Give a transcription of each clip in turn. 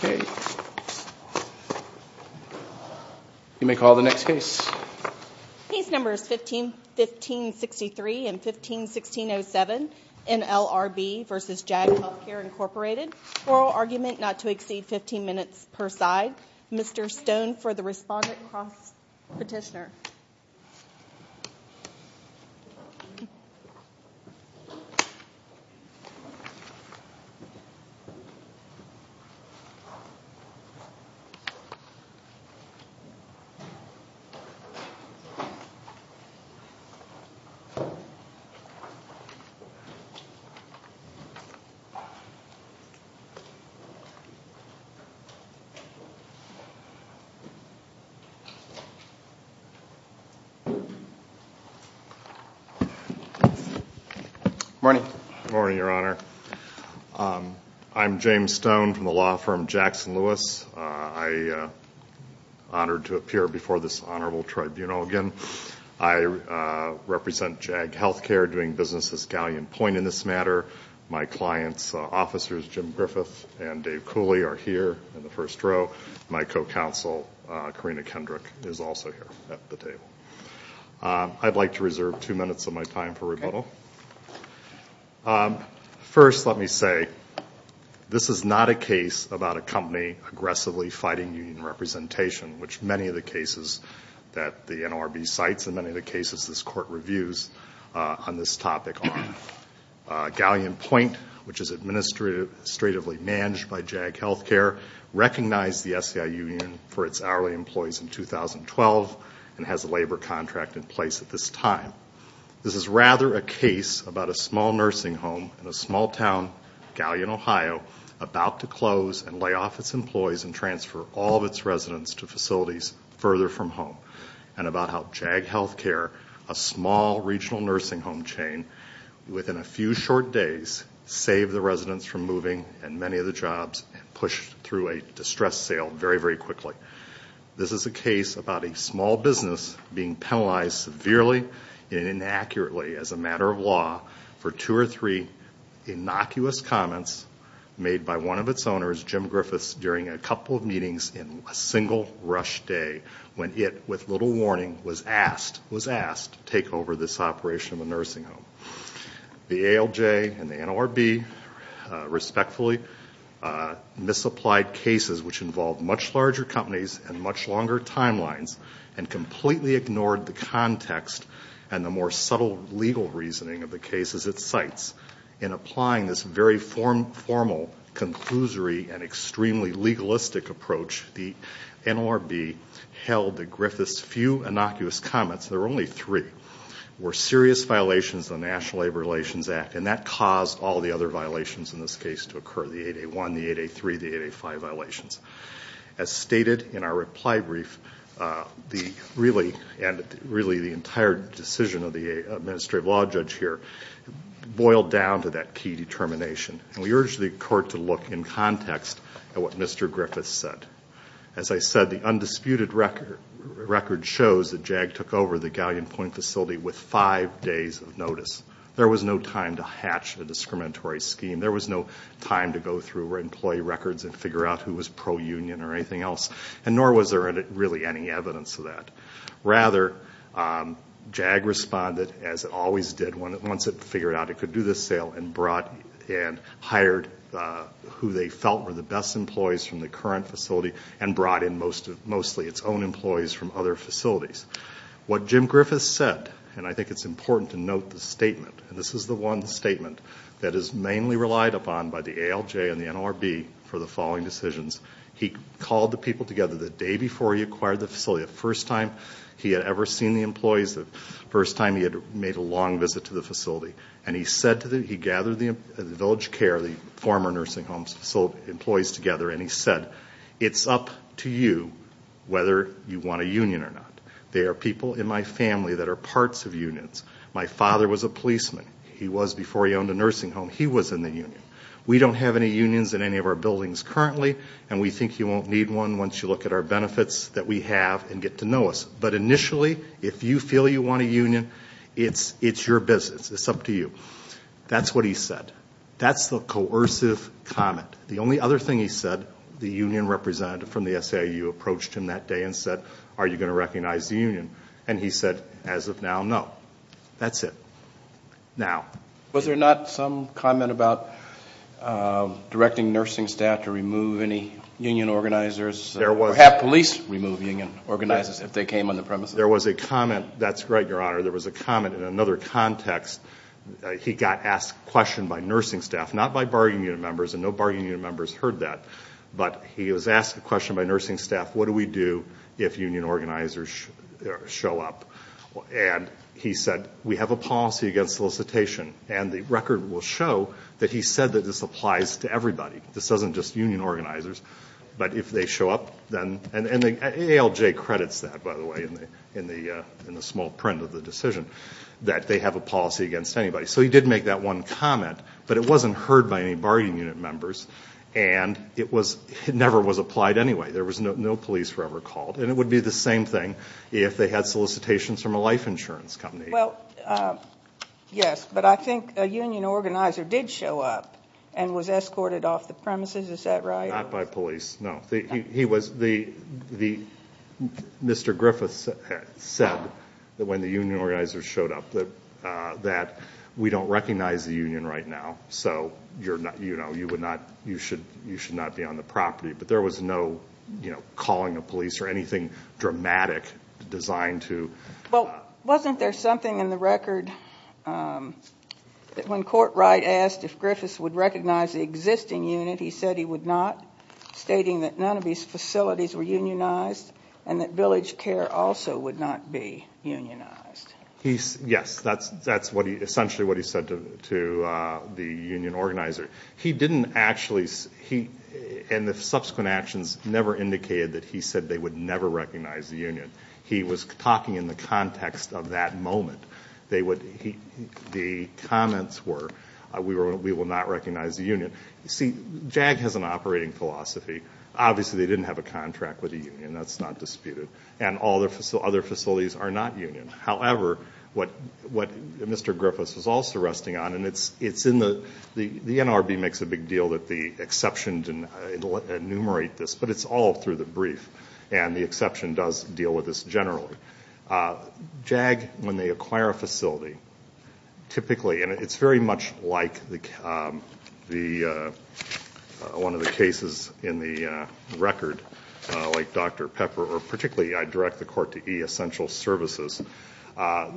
Okay. You may call the next case. These numbers 15 15 63 and 15 16 0 7 in L.R.B. vs. Jack here incorporated oral argument not to exceed 15 minutes per side Mr. Stone for the response. Morning, morning, your honor. I'm James Stone from the law firm Jackson Lewis. I honored to appear before this Honorable Tribunal again. I represent Jag Healthcare doing business as Galleon Point in this matter. My clients officers Jim Griffith and Dave Cooley are here in the first row. My co-counsel Karina Kendrick is also here at the table. I'd like to reserve two minutes of my time for rebuttal. First, let me say this is not a case about a company aggressively fighting union representation, which many of the cases that the N.R.B. cites in many of the cases this court reviews on this topic on Galleon Point, which is administratively managed by Jag Healthcare, recognize the SEI union for its hourly employees in 2012 and has a labor contract in place at this time. This is rather a case about a small nursing home in a small town, Galleon, Ohio, about to close and lay off its employees and transfer all of its residents to facilities further from home and about how Jag Healthcare, a small regional nursing home chain, within a few short days, saved the residents from moving and many of the jobs and pushed through a distress sale very, very quickly. This is a case about a small business being penalized severely and inaccurately as a matter of law for two or three innocuous comments made by one of its owners, Jim Griffiths, during a couple of meetings in a single rush day when it, with little warning, was asked to take over this operation of a nursing home. The ALJ and the N.R.B. respectfully misapplied cases which involved much larger companies and much longer timelines and completely ignored the context and the more subtle legal reasoning of the cases it cites in applying this very formal, conclusory and extremely legalistic approach, the N.R.B. held that Griffiths' few innocuous comments, there were only three, were serious violations of the National Labor Relations Act and that caused all the other violations in this case to occur, the 8A1, the 8A3, the 8A5 violations. As stated in our reply brief, really the entire decision of the Administrative Law Judge here boiled down to that key determination. And we urge the court to look in context at what Mr. Griffiths said. As I said, the undisputed record shows that JAG took over the Galleon Point facility with five days of notice. There was no time to hatch the discriminatory scheme. There was no time to go through employee records and figure out who was pro-union or anything else. And nor was there really any evidence of that. Rather, JAG responded as it always did once it figured out it could do this sale and hired who they felt were the best employees from the current facility and brought in mostly its own employees from other facilities. What Jim Griffiths said, and I think it's important to note the statement, and this is the one statement that is mainly relied upon by the ALJ and the N.R.B. for the following decisions. He called the people together the day before he acquired the facility. The first time he had ever seen the employees, the first time he had made a long visit to the facility. And he said to them, he gathered the village care, the former nursing home employees together, and he said, it's up to you whether you want a union or not. There are people in my family that are parts of unions. My father was a policeman. He was, before he owned a nursing home, he was in the union. We don't have any unions in any of our buildings currently, and we think you won't need one once you look at our benefits that we have and get to know us. But initially, if you feel you want a union, it's your business. It's up to you. That's what he said. That's the coercive comment. The only other thing he said, the union representative from the SAU approached him that day and said, are you going to recognize the union? And he said, as of now, no. That's it. Now. Was there not some comment about directing nursing staff to remove any union organizers? There was. Or have police remove union organizers if they came on the premises? There was a comment. That's right, Your Honor. There was a comment in another context. He got asked a question by nursing staff, not by bargaining unit members, and no bargaining unit members heard that. But he was asked a question by nursing staff, what do we do if union organizers show up? And he said, we have a policy against solicitation. And the record will show that he said that this applies to everybody. This isn't just union organizers. But if they show up, then, and ALJ credits that, by the way, in the small print of the decision, that they have a policy against anybody. So he did make that one comment. But it wasn't heard by any bargaining unit members. And it never was applied anyway. There was no police were ever called. And it would be the same thing if they had solicitations from a life insurance company. Well, yes. But I think a union organizer did show up and was escorted off the premises. Is that right? Not by police, no. He was, the, Mr. Griffiths said that when the union organizers showed up that we don't recognize the union right now. So you're not, you know, you would not, you should not be on the property. But there was no, you know, calling of police or anything dramatic designed to. Well, wasn't there something in the record that when Court Wright asked if Griffiths would recognize the existing unit, he said he would not, stating that none of these facilities were unionized and that village care also would not be unionized. He, yes, that's what he, essentially what he said to the union organizer. He didn't actually, he, and the subsequent actions never indicated that he said they would never recognize the union. He was talking in the context of that moment. They would, the comments were we will not recognize the union. See, JAG has an operating philosophy. Obviously, they didn't have a contract with the union. That's not disputed. And all the other facilities are not union. However, what Mr. Griffiths was also resting on, and it's in the, the NRB makes a big deal that the exceptions enumerate this. But it's all through the brief. And the exception does deal with this generally. JAG, when they acquire a facility, typically, and it's very much like the, one of the cases in the record, like Dr. Pepper, or particularly I direct the court to e-essential services,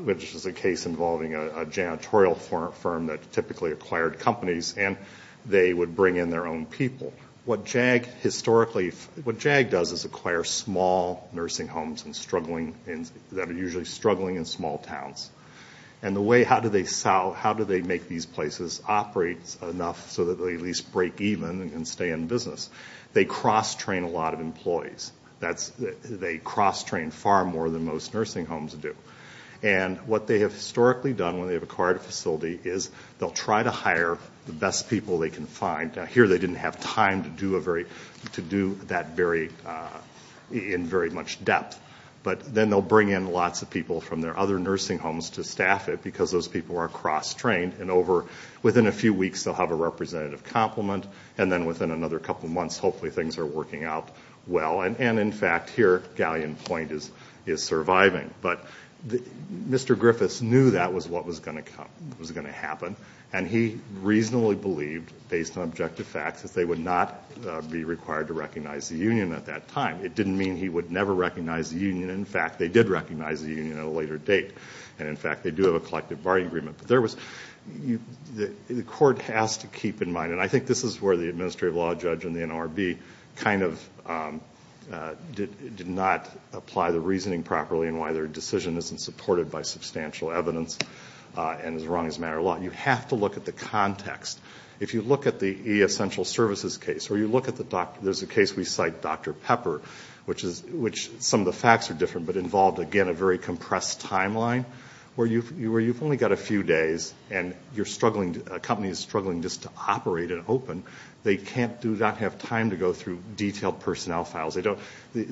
which is a case involving a janitorial firm that typically acquired companies. And they would bring in their own people. What JAG historically, what JAG does is acquire small nursing homes and struggling, that are usually struggling in small towns. And the way, how do they sell, how do they make these places operate enough so that they at least break even and stay in business? They cross-train a lot of employees. That's, they cross-train far more than most nursing homes do. And what they have historically done when they have acquired a facility is they'll try to hire the best people they can find. Now here, they didn't have time to do a very, to do that very, in very much depth. But then they'll bring in lots of people from their other nursing homes to staff it because those people are cross-trained. And over, within a few weeks, they'll have a representative compliment. And then within another couple months, hopefully things are working out well. And in fact, here, Galleon Point is surviving. But Mr. Griffiths knew that was what was going to come, was going to happen. And he reasonably believed, based on objective facts, that they would not be required to recognize the union at that time. It didn't mean he would never recognize the union. In fact, they did recognize the union at a later date. And in fact, they do have a collective bargaining agreement. But there was, the court has to keep in mind, and I think this is where the administrative law judge and the NRB kind of did not apply the reasoning properly. And why their decision isn't supported by substantial evidence and is wrong as a matter of law. You have to look at the context. If you look at the essential services case, or you look at the, there's a case we cite, Dr. Pepper, which is, which some of the facts are different, but involved, again, a very compressed timeline where you've only got a few days and you're struggling, a company is struggling just to operate and open. They can't, do not have time to go through detailed personnel files. They don't, the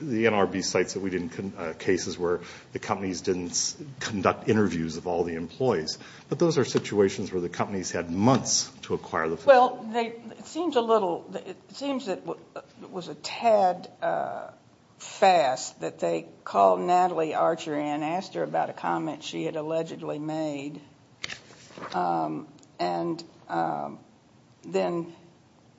NRB sites that we didn't, cases where the companies didn't conduct interviews of all the employees. But those are situations where the companies had months to acquire the facility. Well, they, it seems a little, it seems that it was a tad fast that they called Natalie Archer in, asked her about a comment she had allegedly made. And then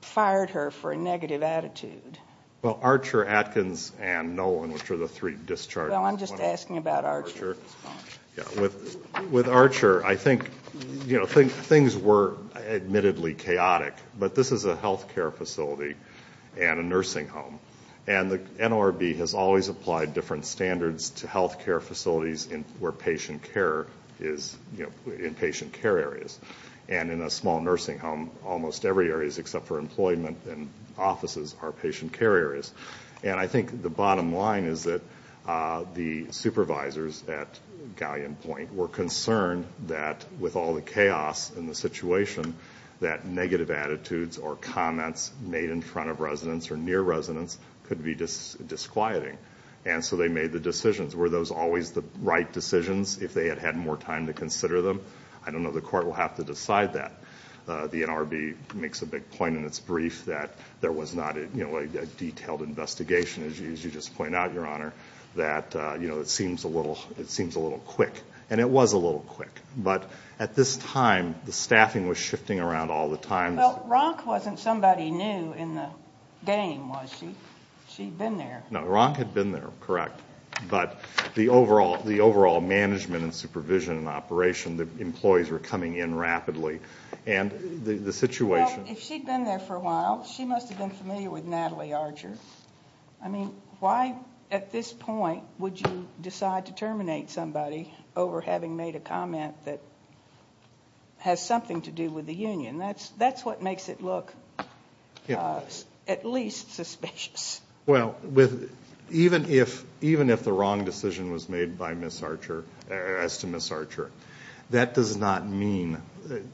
fired her for a negative attitude. Well, Archer, Atkins, and Nolan, which are the three discharged. Well, I'm just asking about Archer. With Archer, I think, you know, things were admittedly chaotic, but this is a healthcare facility and a nursing home. And the NRB has always applied different standards to healthcare facilities where patient care is, you know, in patient care areas. And in a small nursing home, almost every area is, except for employment and offices, are patient care areas. And I think the bottom line is that the supervisors at Galleon Point were concerned that with all the chaos in the situation, that negative attitudes or comments made in front of residents or near residents could be disquieting. And so they made the decisions. Were those always the right decisions if they had had more time to consider them? I don't know. The court will have to decide that. The NRB makes a big point in its brief that there was not, you know, a detailed investigation, as you just point out, Your Honor, that, you know, it seems a little quick. And it was a little quick. But at this time, the staffing was shifting around all the time. Well, Ronk wasn't somebody new in the game, was she? She'd been there. No, Ronk had been there, correct. Well, if she'd been there for a while, she must have been familiar with Natalie Archer. I mean, why at this point would you decide to terminate somebody over having made a comment that has something to do with the union? That's what makes it look at least suspicious. Well, even if the wrong decision was made by Ms. Archer, as to Ms. Archer, that does not mean,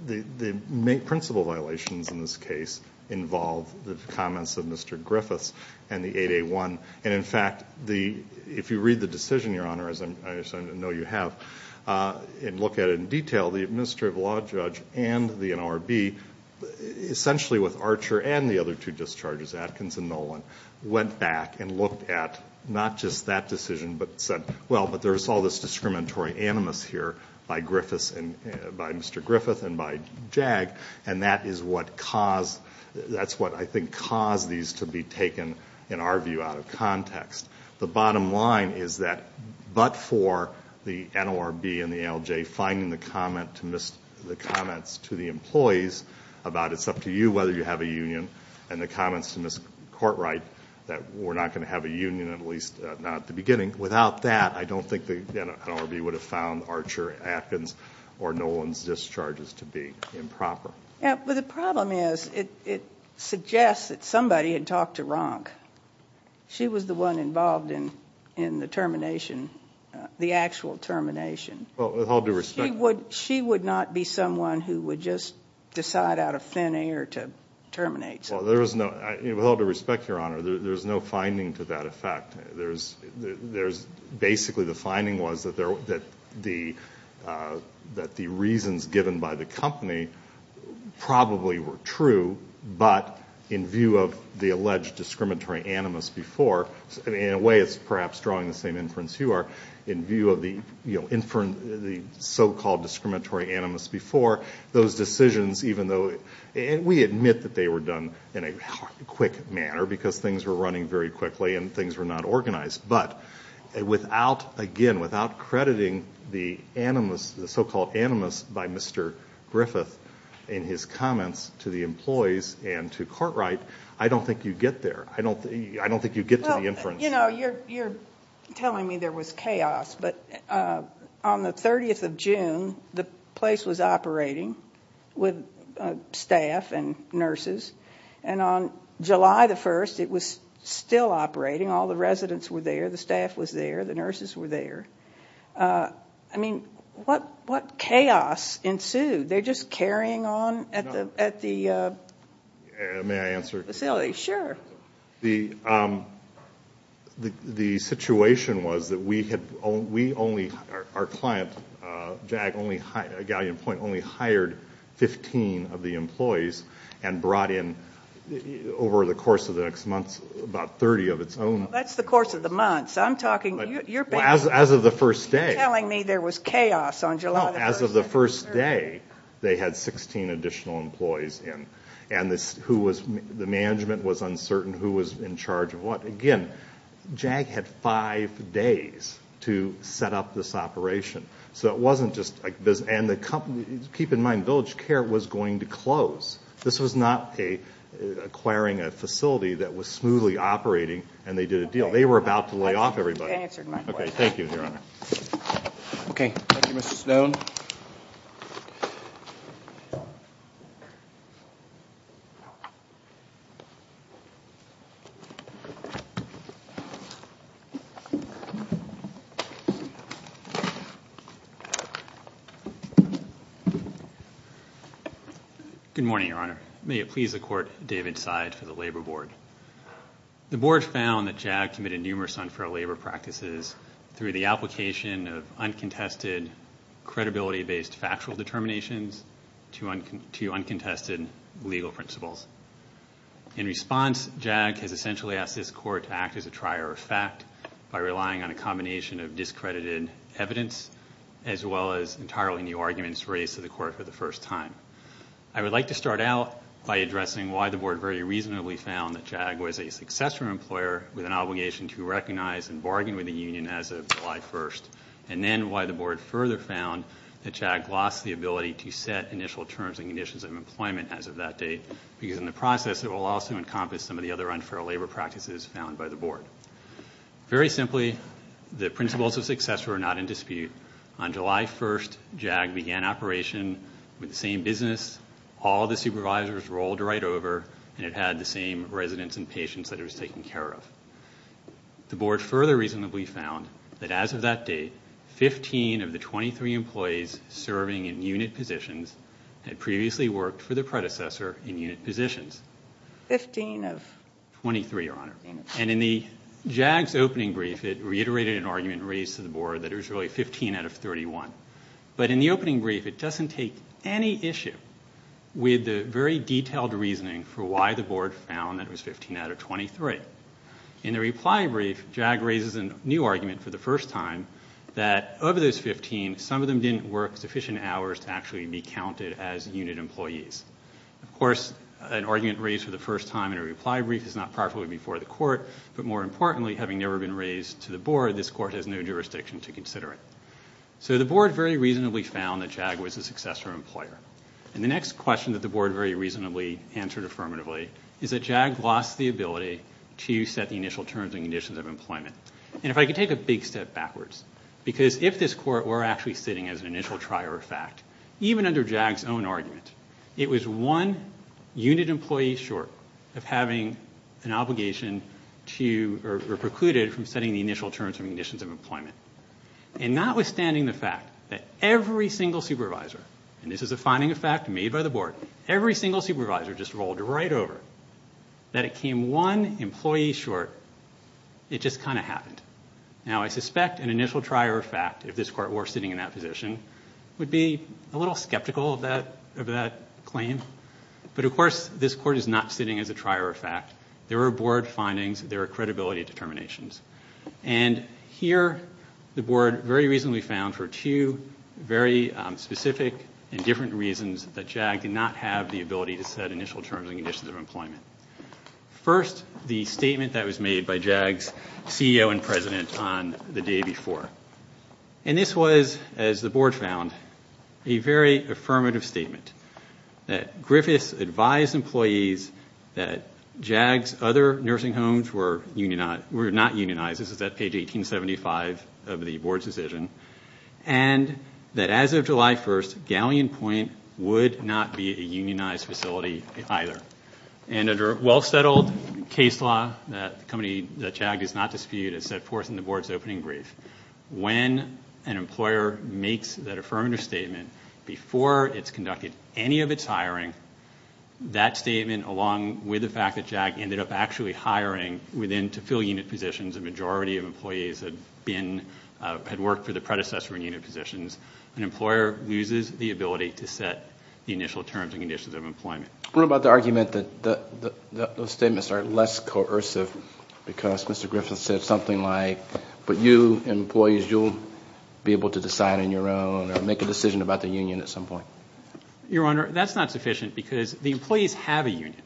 the principal violations in this case involve the comments of Mr. Griffiths and the 8A1. And in fact, if you read the decision, Your Honor, as I know you have, and look at it in detail, the administrative law judge and the NRB, essentially with Archer and the other two discharges, Atkins and Nolan, went back and looked at not just that decision, but said, well, but there's all this discriminatory animus here by Mr. Griffiths and by JAG, and that is what caused, that's what I think caused these to be taken, in our view, out of context. The bottom line is that, but for the NRB and the ALJ finding the comments to the employees about it's up to you whether you have a union, and the comments to Ms. Courtright that we're not going to have a union, at least not at the beginning, without that, I don't think the NRB would have found Archer, Atkins, or Nolan's discharges to be improper. Yeah, but the problem is, it suggests that somebody had talked to Ronk. She was the one involved in the termination, the actual termination. Well, with all due respect... She would not be someone who would just decide out of thin air to terminate somebody. Well, there was no, with all due respect, Your Honor, there's no finding to that effect. There's, basically, the finding was that the reasons given by the company probably were true, but in view of the alleged discriminatory animus before, in a way it's perhaps drawing the same inference you are, in view of the so-called discriminatory animus before, those decisions, even though we admit that they were done in a quick manner because things were running very quickly and things were not organized, but without, again, without crediting the animus, the so-called animus by Mr. Griffith in his comments to the employees and to Courtright, I don't think you get there. I don't think you get to the inference. You know, you're telling me there was chaos, but on the 30th of June, the place was operating with staff and nurses, and on July the 1st, it was still operating. All the residents were there. The staff was there. The nurses were there. I mean, what chaos ensued? They're just carrying on at the facility. Sure. The situation was that we had only, our client, Jag, only hired 15 of the employees and brought in, over the course of the next months, about 30 of its own. That's the course of the months. I'm talking, you're back. As of the first day. You're telling me there was chaos on July the 1st. No, as of the first day, they had 16 additional employees in, and who was, the management was uncertain who was in charge of what. Again, Jag had five days to set up this operation. So it wasn't just, and the company, keep in mind, Village Care was going to close. This was not acquiring a facility that was smoothly operating, and they did a deal. They were about to lay off everybody. Answered my question. Okay, thank you, Your Honor. Okay, thank you, Mr. Stone. Good morning, Your Honor. May it please the Court, David Seid for the Labor Board. The Board found that Jag committed numerous unfair labor practices through the application of uncontested credibility-based factual determinations to uncontested legal principles. In response, Jag has essentially asked this Court to act as a trier of fact by relying on a combination of discredited evidence, as well as entirely new arguments raised to the Court for the first time. I would like to start out by addressing why the Board very reasonably found that Jag was a successful employer with an obligation to recognize and bargain with the union as of July 1st, and then why the Board further found that Jag lost the ability to set initial terms and conditions of employment as of that date, because in the process it will also encompass some of the other unfair labor practices found by the Board. Very simply, the principles of success were not in dispute. On July 1st, Jag began operation with the same business. All the supervisors rolled right over, and it had the same residents and patients that it was taking care of. The Board further reasonably found that as of that date, 15 of the 23 employees serving in unit positions had previously worked for their predecessor in unit positions. Fifteen of? Twenty-three, Your Honor. And in Jag's opening brief, it reiterated an argument raised to the Board that it was really 15 out of 31. But in the opening brief, it doesn't take any issue with the very detailed reasoning for why the Board found that it was 15 out of 23. In the reply brief, Jag raises a new argument for the first time, that of those 15, some of them didn't work sufficient hours to actually be counted as unit employees. Of course, an argument raised for the first time in a reply brief is not properly before the Court. But more importantly, having never been raised to the Board, this Court has no jurisdiction to consider it. So the Board very reasonably found that Jag was a successor employer. And the next question that the Board very reasonably answered affirmatively is that Jag lost the ability to set the initial terms and conditions of employment. And if I could take a big step backwards, because if this Court were actually sitting as an initial trier of fact, even under Jag's own argument, it was one unit employee short of having an obligation to, or precluded from setting the initial terms and conditions of employment. And notwithstanding the fact that every single supervisor, and this is a finding of fact made by the Board, every single supervisor just rolled right over that it came one employee short, it just kind of happened. Now, I suspect an initial trier of fact, if this Court were sitting in that position, would be a little skeptical of that claim. But of course, this Court is not sitting as a trier of fact. There are Board findings, there are credibility determinations. And here, the Board very reasonably found for two very specific and different reasons that Jag did not have the ability to set initial terms and conditions of employment. First, the statement that was made by Jag's CEO and President on the day before. And this was, as the Board found, a very affirmative statement. That Griffiths advised employees that Jag's other nursing homes were not unionized. This is at page 1875 of the Board's decision. And that as of July 1st, Galleon Point would not be a unionized facility either. And under a well-settled case law that Jag does not dispute, it's set forth in the Board's opening brief. When an employer makes that affirmative statement before it's conducted any of its hiring, that statement along with the fact that Jag ended up actually hiring within to fill unit positions, a majority of employees had worked for the predecessor in unit positions, an employer loses the ability to set the initial terms and conditions of employment. What about the argument that those statements are less coercive because Mr. Griffiths said something like, but you, employees, you'll be able to decide on your own or make a decision about the union at some point? Your Honor, that's not sufficient because the employees have a union.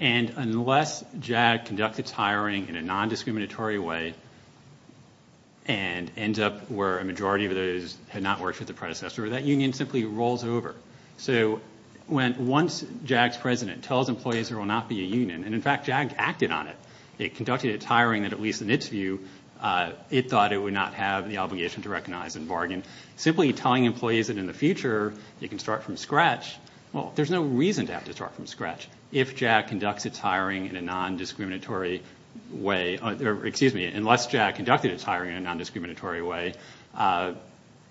And unless Jag conducts its hiring in a non-discriminatory way and ends up where a majority of those had not worked for the predecessor, that union simply rolls over. So when once Jag's president tells employees there will not be a union, and in fact, Jag acted on it, it conducted its hiring that at least in its view, it thought it would not have the obligation to recognize and bargain. Simply telling employees that in the future, you can start from scratch, well, there's no reason to have to start from scratch if Jag conducts its hiring in a non-discriminatory way. Excuse me, unless Jag conducted its hiring in a non-discriminatory way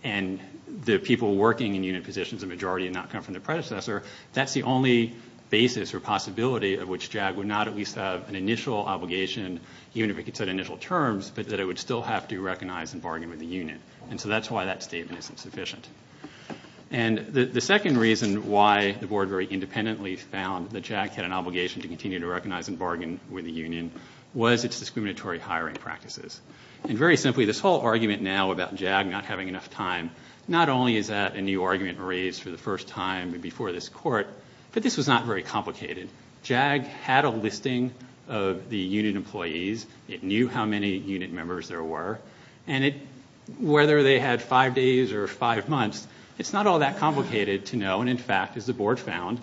and the people working in unit positions, the majority had not come from the predecessor, that's the only basis or possibility of which Jag would not at least have an initial obligation, even if it could set initial terms, but that it would still have to recognize and bargain with the union. And so that's why that statement isn't sufficient. And the second reason why the Board very independently found that Jag had an obligation to continue to recognize and bargain with the union was its discriminatory hiring practices. And very simply, this whole argument now about Jag not having enough time, not only is that a new argument raised for the first time before this Court, but this was not very complicated. Jag had a listing of the unit employees. It knew how many unit members there were. And whether they had five days or five months, it's not all that complicated to know. And in fact, as the Board found,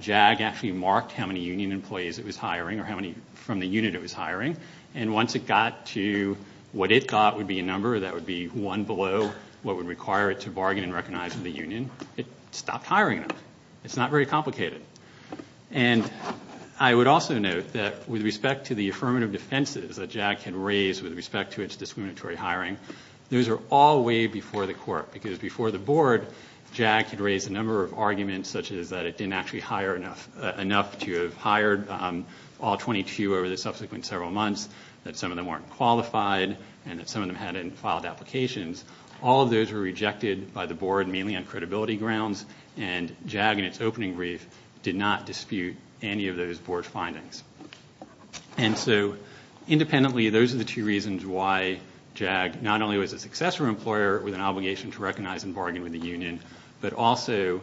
Jag actually marked how many union employees it was hiring or how many from the unit it was hiring. And once it got to what it thought would be a number, that would be one below what would require it to bargain and recognize with the union, it stopped hiring them. It's not very complicated. And I would also note that with respect to the affirmative defenses that Jag had raised with respect to its discriminatory hiring, those are all way before the Court. Because before the Board, Jag had raised a number of arguments such as that it didn't actually hire enough to have hired all 22 over the subsequent several months, that some of them weren't qualified, and that some of them hadn't filed applications. All of those were rejected by the Board, mainly on credibility grounds. And Jag, in its opening brief, did not dispute any of those Board findings. And so, independently, those are the two reasons why Jag not only was a successful employer with an obligation to recognize and bargain with the union, but also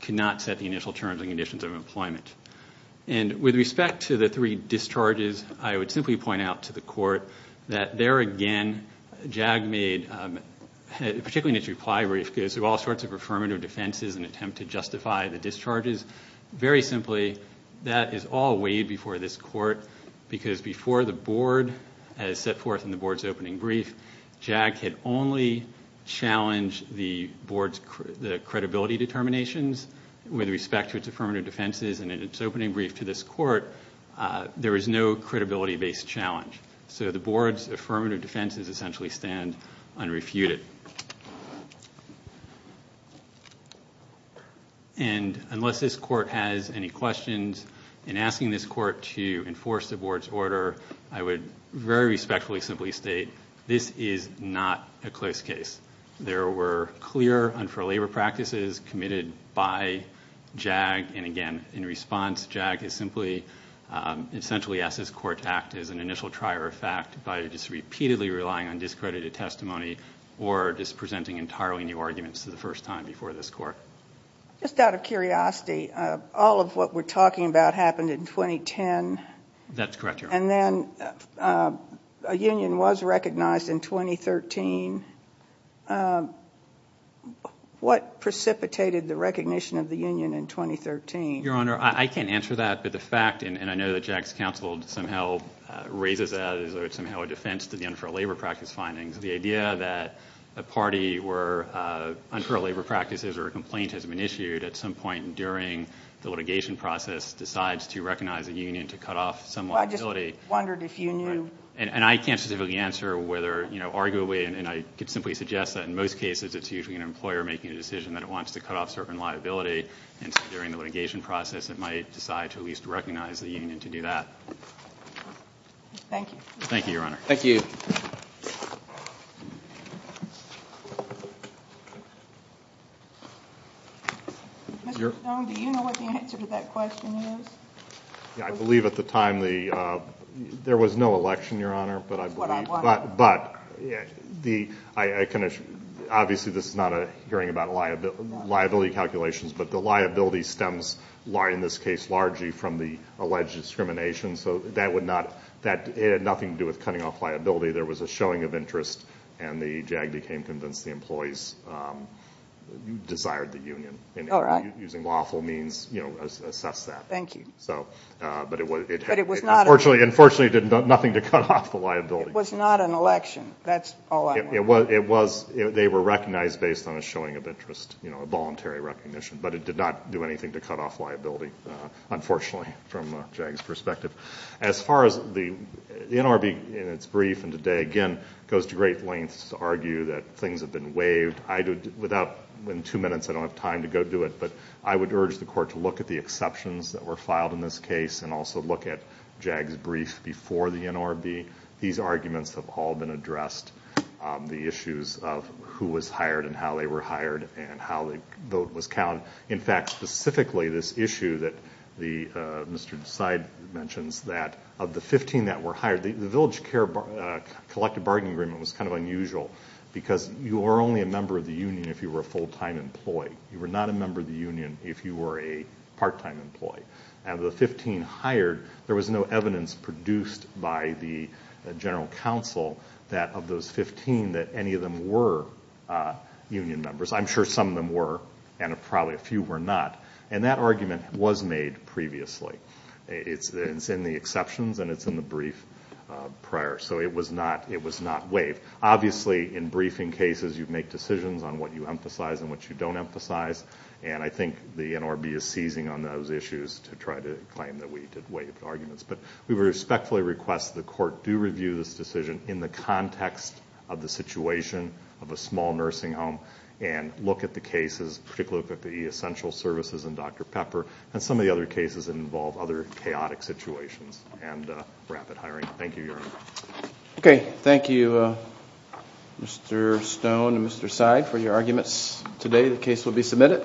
could not set the initial terms and conditions of employment. And with respect to the three discharges, I would simply point out to the Court that there again, Jag made, particularly in its reply brief, goes through all sorts of affirmative defenses in an attempt to justify the discharges. Very simply, that is all way before this Court because before the Board, as set forth in the Board's opening brief, Jag had only challenged the Board's credibility determinations with respect to its affirmative defenses and in its opening brief to this Court, there was no credibility-based challenge. So the Board's affirmative defenses essentially stand unrefuted. And unless this Court has any questions in asking this Court to enforce the Board's order, I would very respectfully simply state this is not a close case. There were clear unfair labor practices committed by Jag, and again, in response, Jag is simply, essentially asked this Court to act as an initial trier of fact by just repeatedly relying on discredited testimony or just presenting entirely new arguments for the first time before this Court. Just out of curiosity, all of what we're talking about happened in 2010. That's correct, Your Honor. And then a union was recognized in 2013. What precipitated the recognition of the union in 2013? Your Honor, I can't answer that, but the fact, and I know that Jag's counsel somehow raises that as though it's somehow a defense to the unfair labor practice findings. The idea that a party where unfair labor practices or a complaint has been issued at some point during the litigation process decides to recognize a union to cut off some liability. And I can't specifically answer whether, you know, I could simply suggest that in most cases it's usually an employer making a decision that it wants to cut off certain liability, and so during the litigation process it might decide to at least recognize the union to do that. Thank you. Thank you, Your Honor. Thank you. Mr. Stone, do you know what the answer to that question is? Yeah, I believe at the time there was no election, Your Honor. That's what I want to know. But obviously this is not a hearing about liability calculations, but the liability stems, in this case, largely from the alleged discrimination. So that had nothing to do with cutting off liability. There was a showing of interest and the Jag became convinced the employees desired the union. All right. And using lawful means, you know, assessed that. Thank you. So, but it unfortunately did nothing to cut off the liability. It was not an election. That's all I want to know. It was, they were recognized based on a showing of interest, you know, a voluntary recognition, but it did not do anything to cut off liability, unfortunately, from Jag's perspective. As far as the NRB in its brief and today, again, goes to great lengths to argue that things have been waived. I do, without, in two minutes I don't have time to go do it, but I would urge the Court to look at the exceptions that were filed in this case and also look at Jag's brief before the NRB. These arguments have all been addressed. The issues of who was hired and how they were hired and how the vote was counted. In fact, specifically this issue that Mr. Desai mentions that of the 15 that were hired, the Village Care Collective Bargaining Agreement was kind of unusual because you were only a member of the union if you were a full-time employee. You were not a member of the union if you were a part-time employee. And of the 15 hired, there was no evidence produced by the General Counsel that of those 15 that any of them were union members. I'm sure some of them were and probably a few were not. And that argument was made previously. It's in the exceptions and it's in the brief prior. So it was not waived. Obviously, in briefing cases, you make decisions on what you emphasize and what you don't emphasize. And I think the NRB is seizing on those issues to try to claim that we did waive arguments. But we respectfully request the court do review this decision in the context of the situation of a small nursing home and look at the cases, particularly look at the essential services and Dr. Pepper and some of the other cases that involve other chaotic situations and rapid hiring. Thank you, Your Honor. Okay. Thank you, Mr. Stone and Mr. Seid for your arguments today. The case will be submitted.